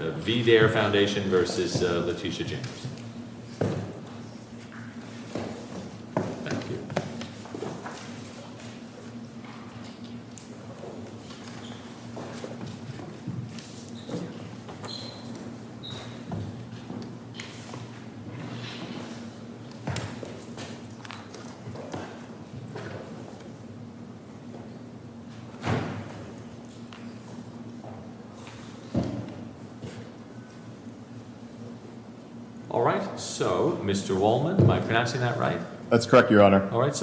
VDARE Foundation v. Letitia James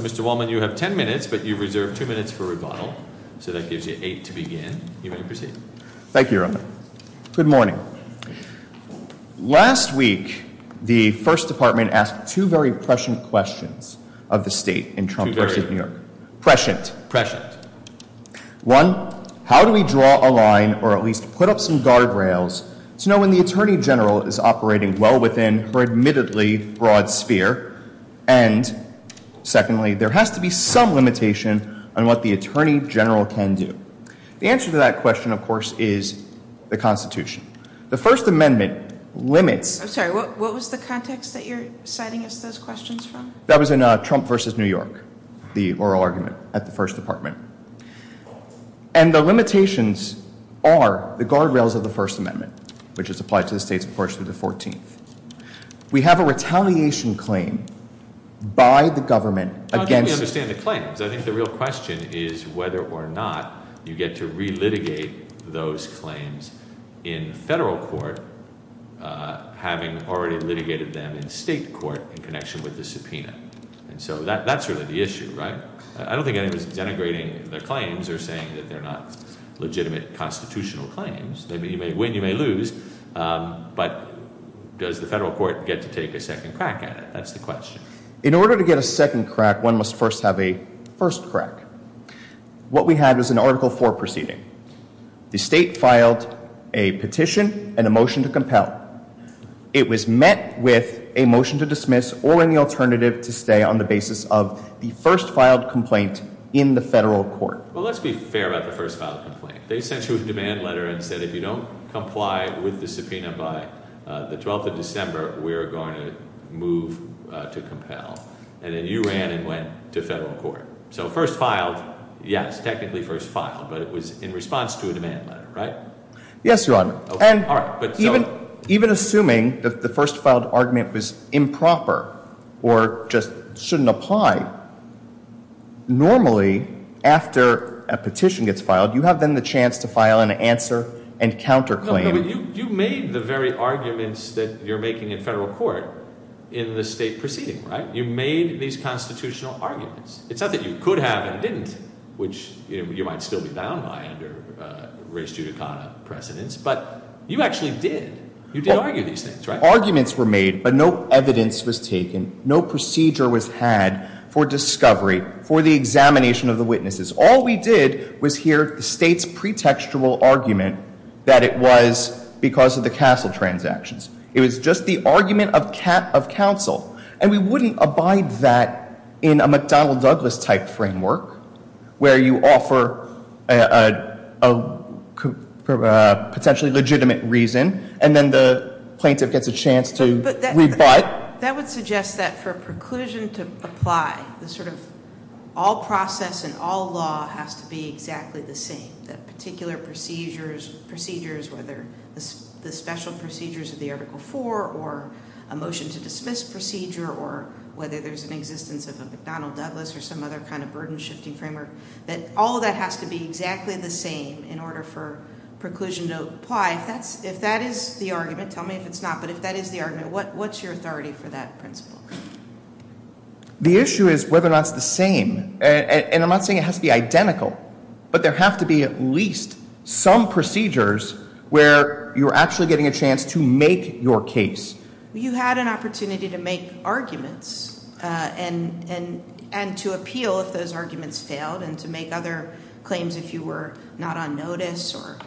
Mr. Wallman, you have ten minutes, but you've reserved two minutes for rebuttal, so that gives you eight to begin. You may proceed. Thank you, Your Honor. Good morning. Last week, the First Department asked two very prescient questions of the State in Trump versus New York. Prescient. Prescient. Prescient. One, how do we draw a line or at least put up some guardrails to know when the Attorney General is operating well within her admittedly broad sphere, and secondly, there has to be some limitation on what the Attorney General can do. The answer to that question, of course, is the Constitution. The First Amendment limits- I'm sorry. What was the context that you're citing as those questions from? That was in Trump versus New York, the oral argument at the First Department. And the limitations are the guardrails of the First Amendment, which is applied to the state's portion of the 14th. We have a retaliation claim by the government against- How do we understand the claims? I think the real question is whether or not you get to relitigate those claims in federal court, having already litigated them in state court in connection with the subpoena. And so that's really the issue, right? I don't think anybody's denigrating the claims or saying that they're not legitimate constitutional claims. You may win, you may lose, but does the federal court get to take a second crack at it? That's the question. In order to get a second crack, one must first have a first crack. What we had was an Article IV proceeding. The state filed a petition and a motion to compel. It was met with a motion to dismiss or any alternative to stay on the basis of the first filed complaint in the federal court. Well, let's be fair about the first filed complaint. They sent you a demand letter and said, if you don't comply with the subpoena by the 12th of December, we're going to move to compel. And then you ran and went to federal court. So first filed, yes, technically first filed, but it was in response to a demand letter, right? Yes, Your Honor. And even assuming that the first filed argument was improper or just shouldn't apply, normally after a petition gets filed, you have then the chance to file an answer and counterclaim. You made the very arguments that you're making in federal court in the state proceeding, right? You made these constitutional arguments. It's not that you could have and didn't, which you might still be bound by under race judicata precedence, but you actually did. You did argue these things, right? Arguments were made, but no evidence was taken. No procedure was had for discovery, for the examination of the witnesses. All we did was hear the state's pretextual argument that it was because of the CASEL transactions. It was just the argument of counsel. And we wouldn't abide that in a McDonnell Douglas type framework where you offer a potentially legitimate reason, and then the plaintiff gets a chance to rebut. That would suggest that for a preclusion to apply, all process and all law has to be exactly the same. That particular procedures, whether the special procedures of the Article 4 or a motion to dismiss procedure or whether there's an existence of a McDonnell Douglas or some other kind of burden shifting framework, that all of that has to be exactly the same in order for preclusion to apply. If that is the argument, tell me if it's not, but if that is the argument, what's your authority for that principle? The issue is whether or not it's the same, and I'm not saying it has to be identical, but there have to be at least some procedures where you're actually getting a chance to make your case. You had an opportunity to make arguments and to appeal if those arguments failed and to make other claims if you were not on notice or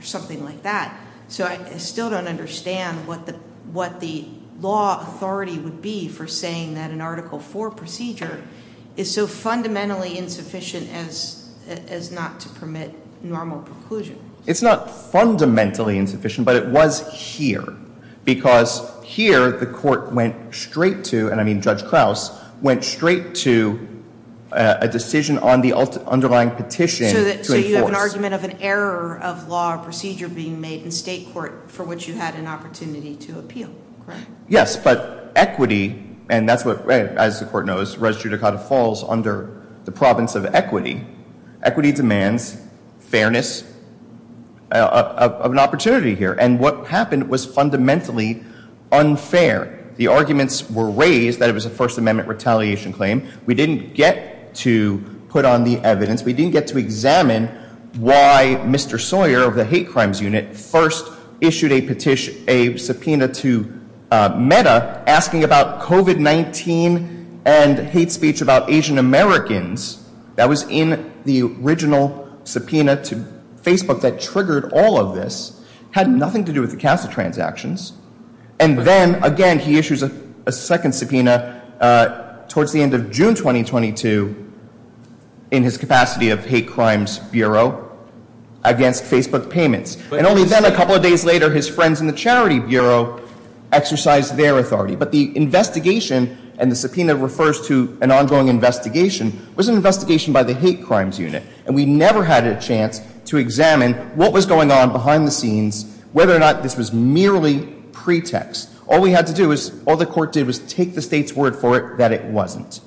something like that. So I still don't understand what the law authority would be for saying that an Article 4 procedure is so fundamentally insufficient as not to permit normal preclusion. It's not fundamentally insufficient, but it was here because here the court went straight to, and I mean Judge Krause, went straight to a decision on the underlying petition to So you have an argument of an error of law or procedure being made in state court for which you had an opportunity to appeal, correct? Yes, but equity, and that's what, as the court knows, Res Judicata falls under the province of equity. Equity demands fairness of an opportunity here, and what happened was fundamentally unfair. The arguments were raised that it was a First Amendment retaliation claim. We didn't get to put on the evidence. We didn't get to examine why Mr. Sawyer of the Hate Crimes Unit first issued a petition, a subpoena to MEDA asking about COVID-19 and hate speech about Asian Americans. That was in the original subpoena to Facebook that triggered all of this. Had nothing to do with the CASA transactions. And then again, he issues a second subpoena towards the end of June 2022 in his capacity of Hate Crimes Bureau against Facebook payments. And only then, a couple of days later, his friends in the Charity Bureau exercised their authority. But the investigation, and the subpoena refers to an ongoing investigation, was an investigation by the Hate Crimes Unit, and we never had a chance to examine what was going on behind the scenes, whether or not this was merely pretext. All we had to do was, all the court did was take the state's word for it that it wasn't.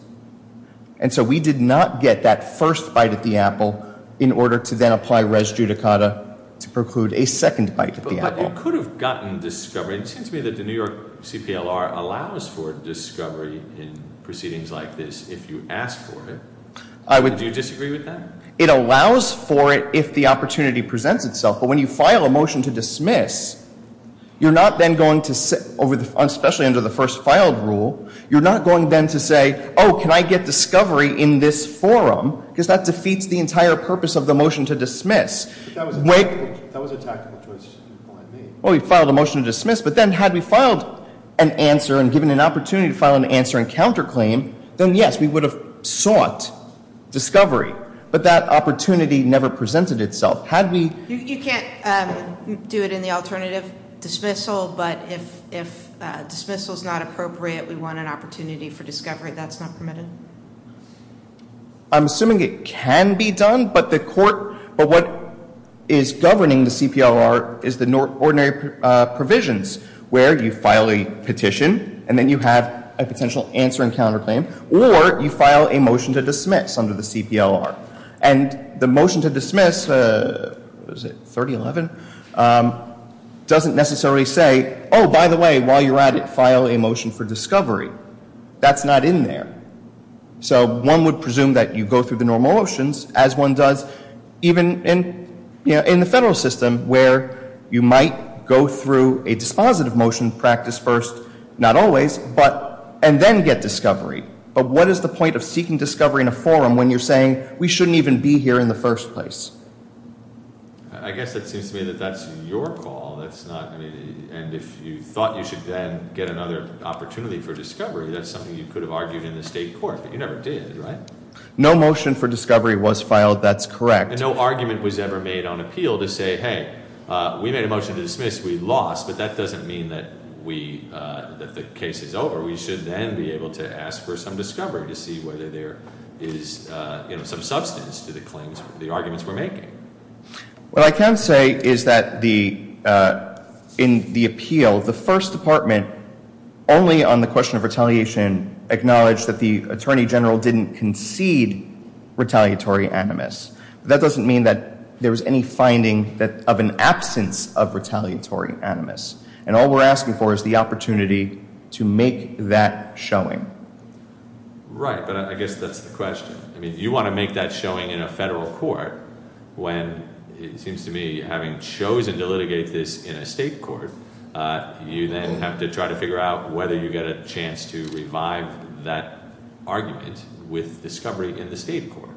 And so we did not get that first bite at the apple in order to then apply Res Judicata to preclude a second bite at the apple. But you could have gotten discovery. It seems to me that the New York CPLR allows for discovery in proceedings like this if you ask for it. Do you disagree with that? It allows for it if the opportunity presents itself. But when you file a motion to dismiss, you're not then going to, especially under the first filed rule, you're not going then to say, oh, can I get discovery in this forum? Because that defeats the entire purpose of the motion to dismiss. But that was a tactical choice you made. Well, we filed a motion to dismiss, but then had we filed an answer and given an opportunity to file an answer and counterclaim, then yes, we would have sought discovery. But that opportunity never presented itself. Had we... You can't do it in the alternative dismissal, but if dismissal is not appropriate, we want an opportunity for discovery. That's not permitted? I'm assuming it can be done, but what is governing the CPLR is the ordinary provisions where you file a petition, and then you have a potential answer and counterclaim, or you file a motion to dismiss under the CPLR. And the motion to dismiss, was it 3011, doesn't necessarily say, oh, by the way, while you're at it, file a motion for discovery. That's not in there. So one would presume that you go through the normal motions, as one does even in the federal system where you might go through a dispositive motion, practice first, not always, but... And then get discovery. But what is the point of seeking discovery in a forum when you're saying, we shouldn't even be here in the first place? I guess it seems to me that that's your call. And if you thought you should then get another opportunity for discovery, that's something you could have argued in the state court, but you never did, right? No motion for discovery was filed. That's correct. And no argument was ever made on appeal to say, hey, we made a motion to dismiss. We lost. But that doesn't mean that the case is over. We should then be able to ask for some discovery to see whether there is some substance to the claims, the arguments we're making. What I can say is that in the appeal, the first department, only on the question of retaliation, acknowledged that the attorney general didn't concede retaliatory animus. That doesn't mean that there was any finding of an absence of retaliatory animus. And all we're asking for is the opportunity to make that showing. Right. But I guess that's the question. You want to make that showing in a federal court when it seems to me, having chosen to litigate this in a state court, you then have to try to figure out whether you get a chance to revive that argument with discovery in the state court.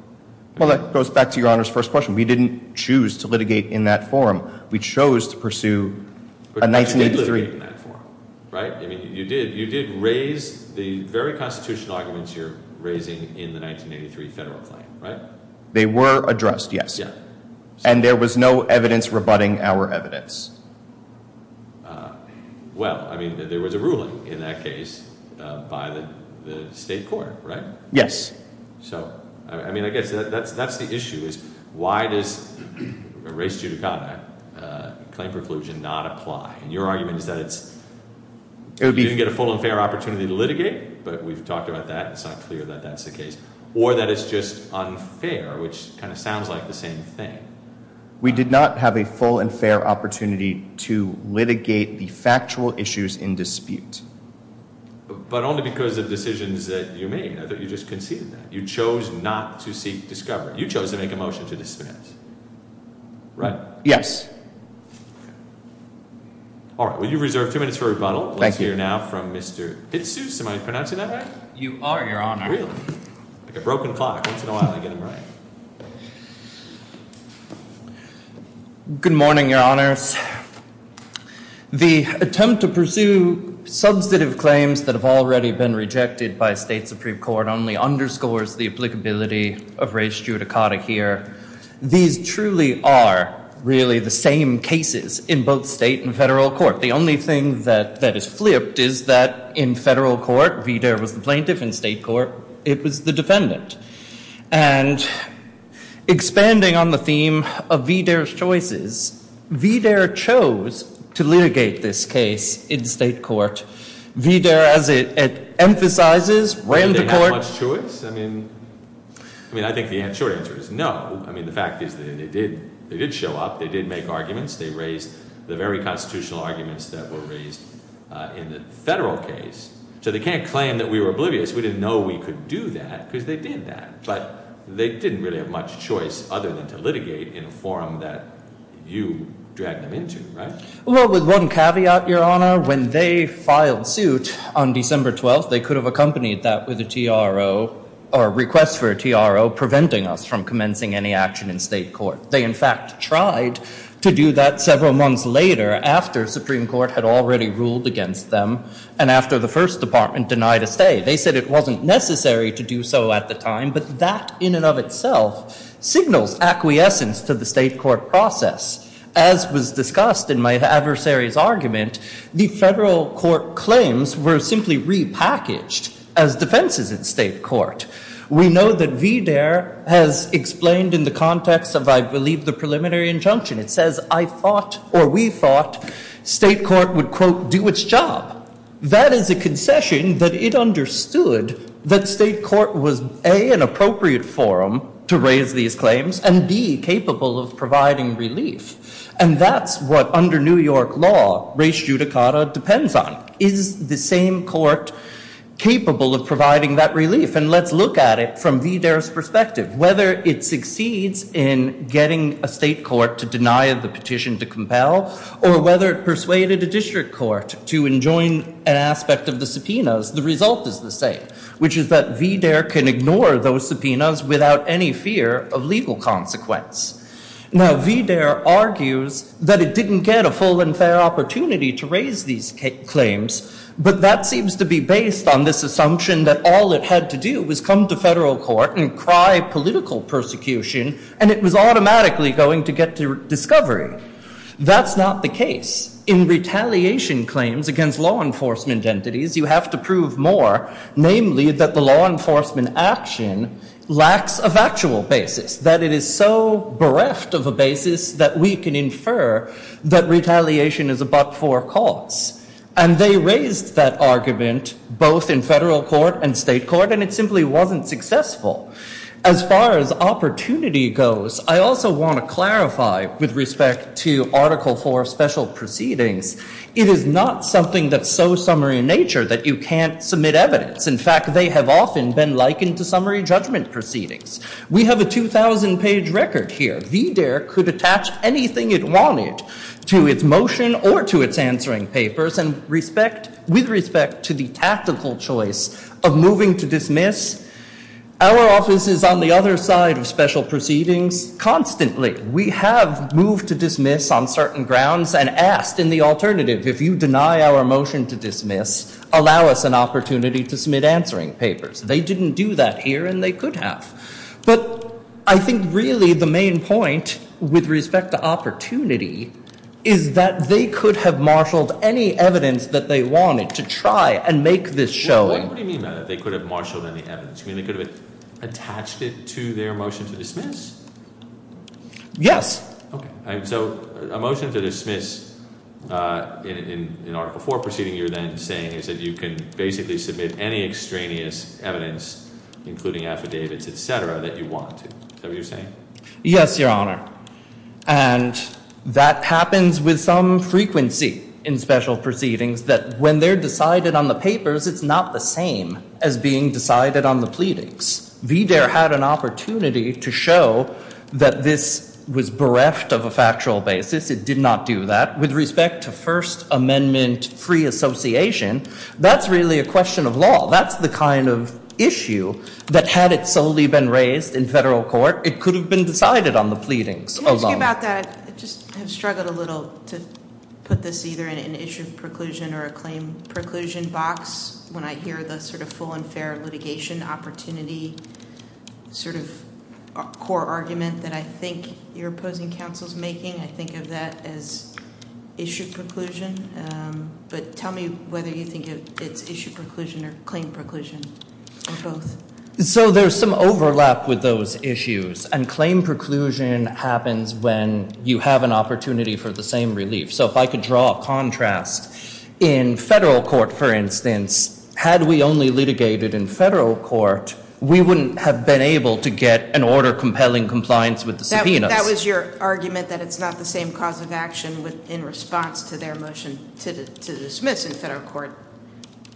Well, that goes back to Your Honor's first question. We didn't choose to litigate in that forum. We chose to pursue a 1983- But you did litigate in that forum, right? You did raise the very constitutional arguments you're raising in the 1983 federal claim, right? They were addressed, yes. And there was no evidence rebutting our evidence. Well, I mean, there was a ruling in that case by the state court, right? Yes. So, I mean, I guess that's the issue, is why does a race judicata claim preclusion not apply? And your argument is that it's, you didn't get a full and fair opportunity to litigate, but we've talked about that. It's not clear that that's the case. Or that it's just unfair, which kind of sounds like the same thing. We did not have a full and fair opportunity to litigate the factual issues in dispute. But only because of decisions that you made, I thought you just conceded that. You chose not to seek discovery. You chose to make a motion to dismiss, right? Yes. All right. Well, you've reserved two minutes for rebuttal. Thank you. Let's hear now from Mr. Hitsuse. Am I pronouncing that right? You are, Your Honor. Really? Like a broken clock. Once in a while, I get them right. Good morning, Your Honors. The attempt to pursue substantive claims that have already been rejected by a state supreme court only underscores the applicability of race judicata here. These truly are really the same cases in both state and federal court. The only thing that is flipped is that in federal court, VDARE was the plaintiff. In state court, it was the defendant. And expanding on the theme of VDARE's choices, VDARE chose to litigate this case in state court. VDARE, as it emphasizes, ran to court. Did VDARE have much choice? I think the short answer is no. I mean, the fact is that they did show up. They did make arguments. They raised the very constitutional arguments that were raised in the federal case. So they can't claim that we were oblivious. We didn't know we could do that because they did that. But they didn't really have much choice other than to litigate in a forum that you dragged them into, right? Well, with one caveat, Your Honor. When they filed suit on December 12th, they could have accompanied that with a TRO, or a request for a TRO, preventing us from commencing any action in state court. They, in fact, tried to do that several months later after Supreme Court had already ruled against them and after the First Department denied a stay. They said it wasn't necessary to do so at the time. But that, in and of itself, signals acquiescence to the state court process. As was discussed in my adversary's argument, the federal court claims were simply repackaged as defenses in state court. We know that VDARE has explained in the context of, I believe, the preliminary injunction. It says, I thought, or we thought, state court would, quote, do its job. That is a concession that it understood that state court was, A, an appropriate forum to raise these claims, and B, capable of providing relief. And that's what, under New York law, res judicata depends on. Is the same court capable of providing that relief? And let's look at it from VDARE's perspective. Whether it succeeds in getting a state court to deny the petition to compel, or whether it persuaded a district court to enjoin an aspect of the subpoenas, the result is the same, which is that VDARE can ignore those subpoenas without any fear of legal consequence. Now, VDARE argues that it didn't get a full and fair opportunity to raise these claims, but that seems to be based on this assumption that all it had to do was come to federal court and cry political persecution, and it was automatically going to get to discovery. That's not the case. In retaliation claims against law enforcement entities, you have to prove more. Namely, that the law enforcement action lacks a factual basis. That it is so bereft of a basis that we can infer that retaliation is a but-for cause. And they raised that argument both in federal court and state court, and it simply wasn't successful. As far as opportunity goes, I also want to clarify with respect to Article IV special proceedings. It is not something that's so summary in nature that you can't submit evidence. In fact, they have often been likened to summary judgment proceedings. We have a 2,000-page record here. VDARE could attach anything it wanted to its motion or to its answering papers, and with respect to the tactical choice of moving to dismiss, our office is on the other side of special proceedings constantly. We have moved to dismiss on certain grounds and asked in the alternative, if you deny our motion to dismiss, allow us an opportunity to submit answering papers. They didn't do that here, and they could have. But I think really the main point with respect to opportunity is that they could have marshaled any evidence that they wanted to try and make this show. What do you mean by that, they could have marshaled any evidence? You mean they could have attached it to their motion to dismiss? Yes. Okay. So a motion to dismiss in Article IV proceeding, you're then saying is that you can basically submit any extraneous evidence, including affidavits, et cetera, that you want to. Is that what you're saying? Yes, Your Honor, and that happens with some frequency in special proceedings that when they're decided on the papers, it's not the same as being decided on the pleadings. VDARE had an opportunity to show that this was bereft of a factual basis. It did not do that. With respect to First Amendment free association, that's really a question of law. That's the kind of issue that had it solely been raised in federal court, it could have been decided on the pleadings alone. Can I ask you about that? I just have struggled a little to put this either in an issue of preclusion or a claim preclusion box when I hear the sort of full and fair litigation opportunity sort of core argument that I think your opposing counsel is making. I think of that as issue preclusion. But tell me whether you think it's issue preclusion or claim preclusion or both. So there's some overlap with those issues, and claim preclusion happens when you have an opportunity for the same relief. So if I could draw a contrast, in federal court, for instance, had we only litigated in federal court, we wouldn't have been able to get an order compelling compliance with the subpoenas. That was your argument that it's not the same cause of action in response to their motion to dismiss in federal court,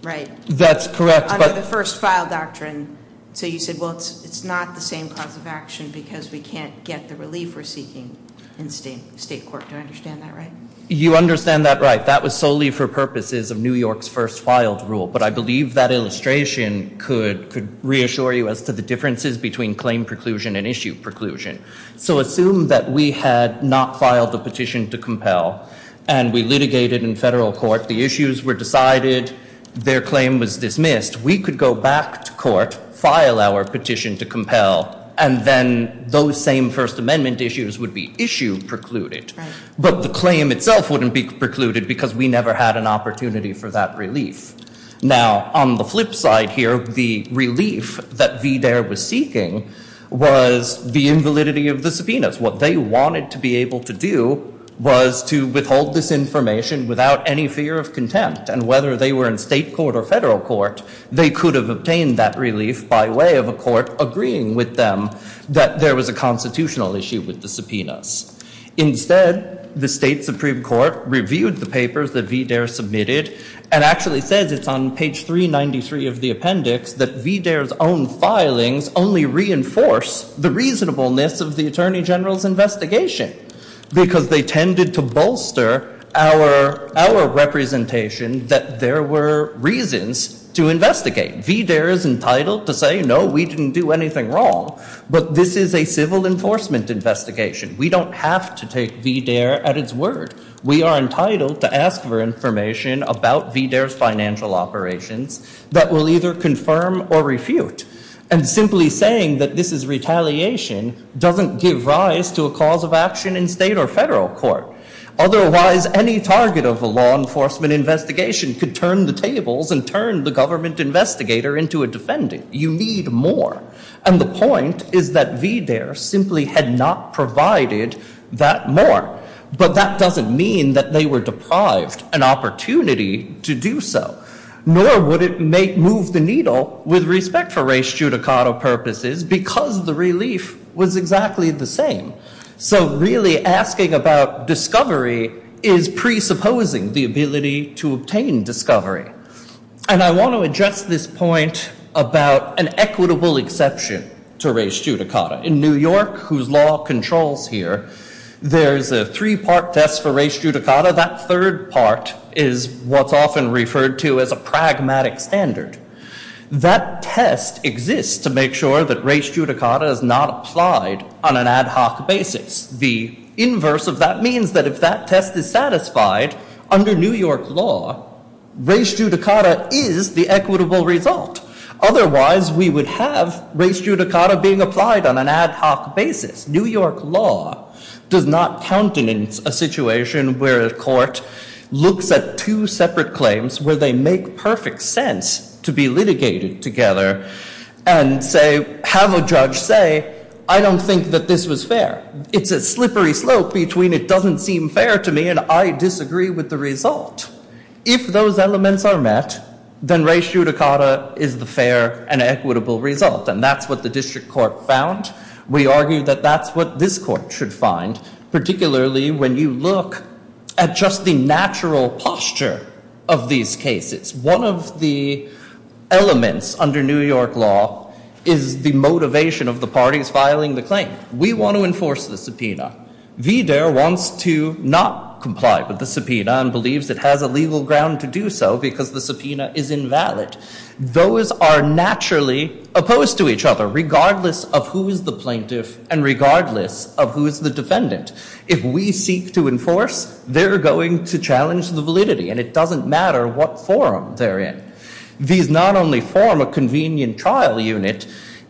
right? That's correct. Under the first file doctrine. So you said, well, it's not the same cause of action because we can't get the relief we're seeking in state court. Do I understand that right? You understand that right. That was solely for purposes of New York's first filed rule. But I believe that illustration could reassure you as to the differences between claim preclusion and issue preclusion. So assume that we had not filed a petition to compel and we litigated in federal court. The issues were decided. Their claim was dismissed. We could go back to court, file our petition to compel, and then those same First Amendment issues would be issue precluded. But the claim itself wouldn't be precluded because we never had an opportunity for that relief. Now, on the flip side here, the relief that VDARE was seeking was the invalidity of the subpoenas. What they wanted to be able to do was to withhold this information without any fear of contempt. And whether they were in state court or federal court, they could have obtained that relief by way of a court agreeing with them that there was a constitutional issue with the subpoenas. Instead, the state supreme court reviewed the papers that VDARE submitted and actually says it's on page 393 of the appendix that VDARE's own filings only reinforce the reasonableness of the attorney general's investigation because they tended to bolster our representation that there were reasons to investigate. VDARE is entitled to say, no, we didn't do anything wrong. But this is a civil enforcement investigation. We don't have to take VDARE at its word. We are entitled to ask for information about VDARE's financial operations that will either confirm or refute. And simply saying that this is retaliation doesn't give rise to a cause of action in state or federal court. Otherwise, any target of a law enforcement investigation could turn the tables and turn the government investigator into a defendant. You need more. And the point is that VDARE simply had not provided that more. But that doesn't mean that they were deprived an opportunity to do so. Nor would it move the needle with respect for res judicato purposes because the relief was exactly the same. So really asking about discovery is presupposing the ability to obtain discovery. And I want to address this point about an equitable exception to res judicato. In New York, whose law controls here, there's a three-part test for res judicato. That third part is what's often referred to as a pragmatic standard. That test exists to make sure that res judicato is not applied on an ad hoc basis. The inverse of that means that if that test is satisfied, under New York law, res judicato is the equitable result. Otherwise, we would have res judicato being applied on an ad hoc basis. New York law does not countenance a situation where a court looks at two separate claims where they make perfect sense to be litigated together. And have a judge say, I don't think that this was fair. It's a slippery slope between it doesn't seem fair to me and I disagree with the result. If those elements are met, then res judicato is the fair and equitable result. And that's what the district court found. We argue that that's what this court should find, particularly when you look at just the natural posture of these cases. One of the elements under New York law is the motivation of the parties filing the claim. We want to enforce the subpoena. Wider wants to not comply with the subpoena and believes it has a legal ground to do so because the subpoena is invalid. Those are naturally opposed to each other, regardless of who is the plaintiff and regardless of who is the defendant. If we seek to enforce, they're going to challenge the validity. And it doesn't matter what forum they're in. These not only form a convenient trial unit,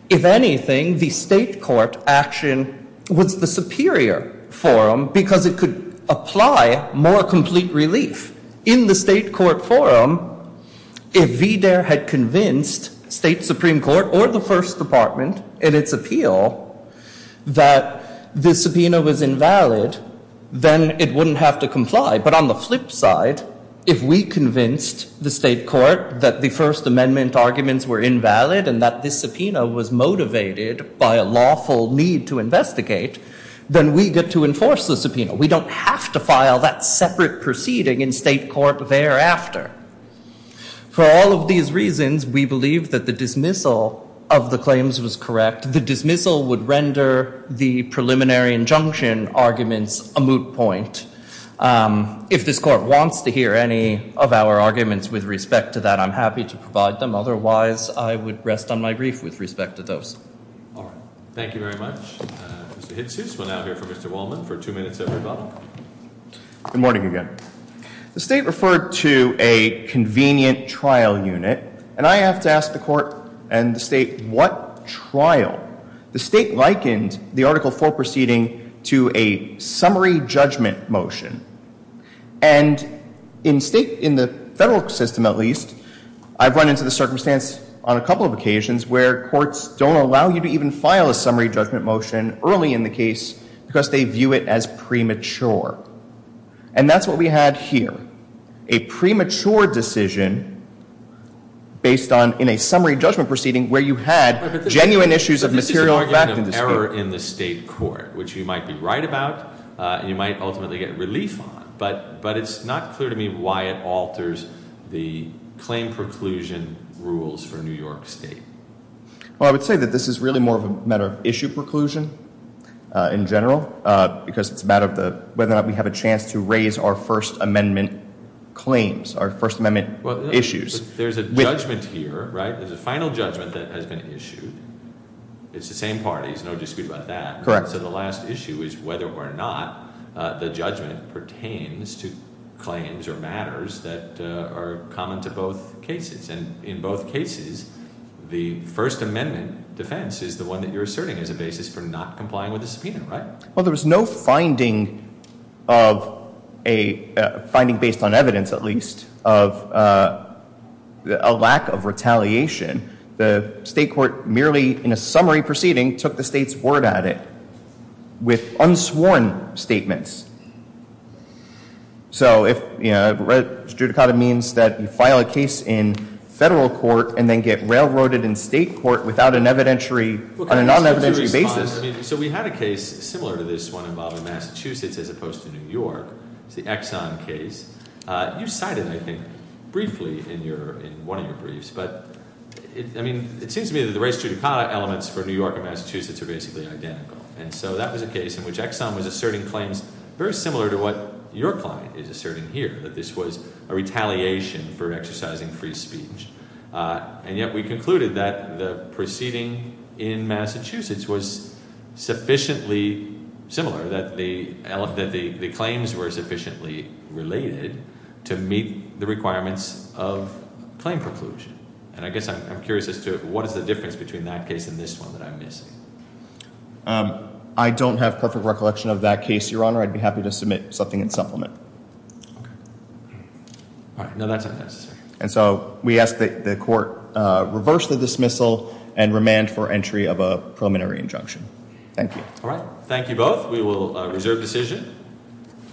if anything, the state court action was the superior forum because it could apply more complete relief. In the state court forum, if Wider had convinced state supreme court or the first department in its appeal that the subpoena was invalid, then it wouldn't have to comply. But on the flip side, if we convinced the state court that the First Amendment arguments were invalid and that this subpoena was motivated by a lawful need to investigate, then we get to enforce the subpoena. We don't have to file that separate proceeding in state court thereafter. For all of these reasons, we believe that the dismissal of the claims was correct. The dismissal would render the preliminary injunction arguments a moot point. If this court wants to hear any of our arguments with respect to that, I'm happy to provide them. Otherwise, I would rest on my grief with respect to those. All right. Thank you very much. Mr. Hitzius, we'll now hear from Mr. Wallman for two minutes at the bottom. Good morning again. The state referred to a convenient trial unit. And I have to ask the court and the state, what trial? The state likened the Article IV proceeding to a summary judgment motion. And in the federal system, at least, I've run into the circumstance on a couple of occasions where courts don't allow you to even file a summary judgment motion early in the case because they view it as premature. And that's what we had here, a premature decision based on in a summary judgment proceeding where you had genuine issues of material fact and dispute. Error in the state court, which you might be right about and you might ultimately get relief on. But it's not clear to me why it alters the claim preclusion rules for New York State. Well, I would say that this is really more of a matter of issue preclusion in general because it's a matter of whether or not we have a chance to raise our First Amendment claims, our First Amendment issues. There's a judgment here, right? There's a final judgment that has been issued. It's the same party. There's no dispute about that. So the last issue is whether or not the judgment pertains to claims or matters that are common to both cases. And in both cases, the First Amendment defense is the one that you're asserting as a basis for not complying with the subpoena, right? Well, there was no finding of a finding based on evidence, at least, of a lack of retaliation. The state court merely in a summary proceeding took the state's word at it with unsworn statements. So if, you know, judicata means that you file a case in federal court and then get railroaded in state court without an evidentiary on a non-evidentiary basis. So we had a case similar to this one involving Massachusetts as opposed to New York. It's the Exxon case. You cited, I think, briefly in one of your briefs. But, I mean, it seems to me that the race judicata elements for New York and Massachusetts are basically identical. And so that was a case in which Exxon was asserting claims very similar to what your client is asserting here, that this was a retaliation for exercising free speech. And yet we concluded that the proceeding in Massachusetts was sufficiently similar, that the claims were sufficiently related to meet the requirements of claim preclusion. And I guess I'm curious as to what is the difference between that case and this one that I'm missing. I don't have perfect recollection of that case, Your Honor. I'd be happy to submit something in supplement. Okay. All right. No, that's not necessary. And so we ask that the court reverse the dismissal and remand for entry of a preliminary injunction. Thank you. All right. Thank you both. We will reserve decision.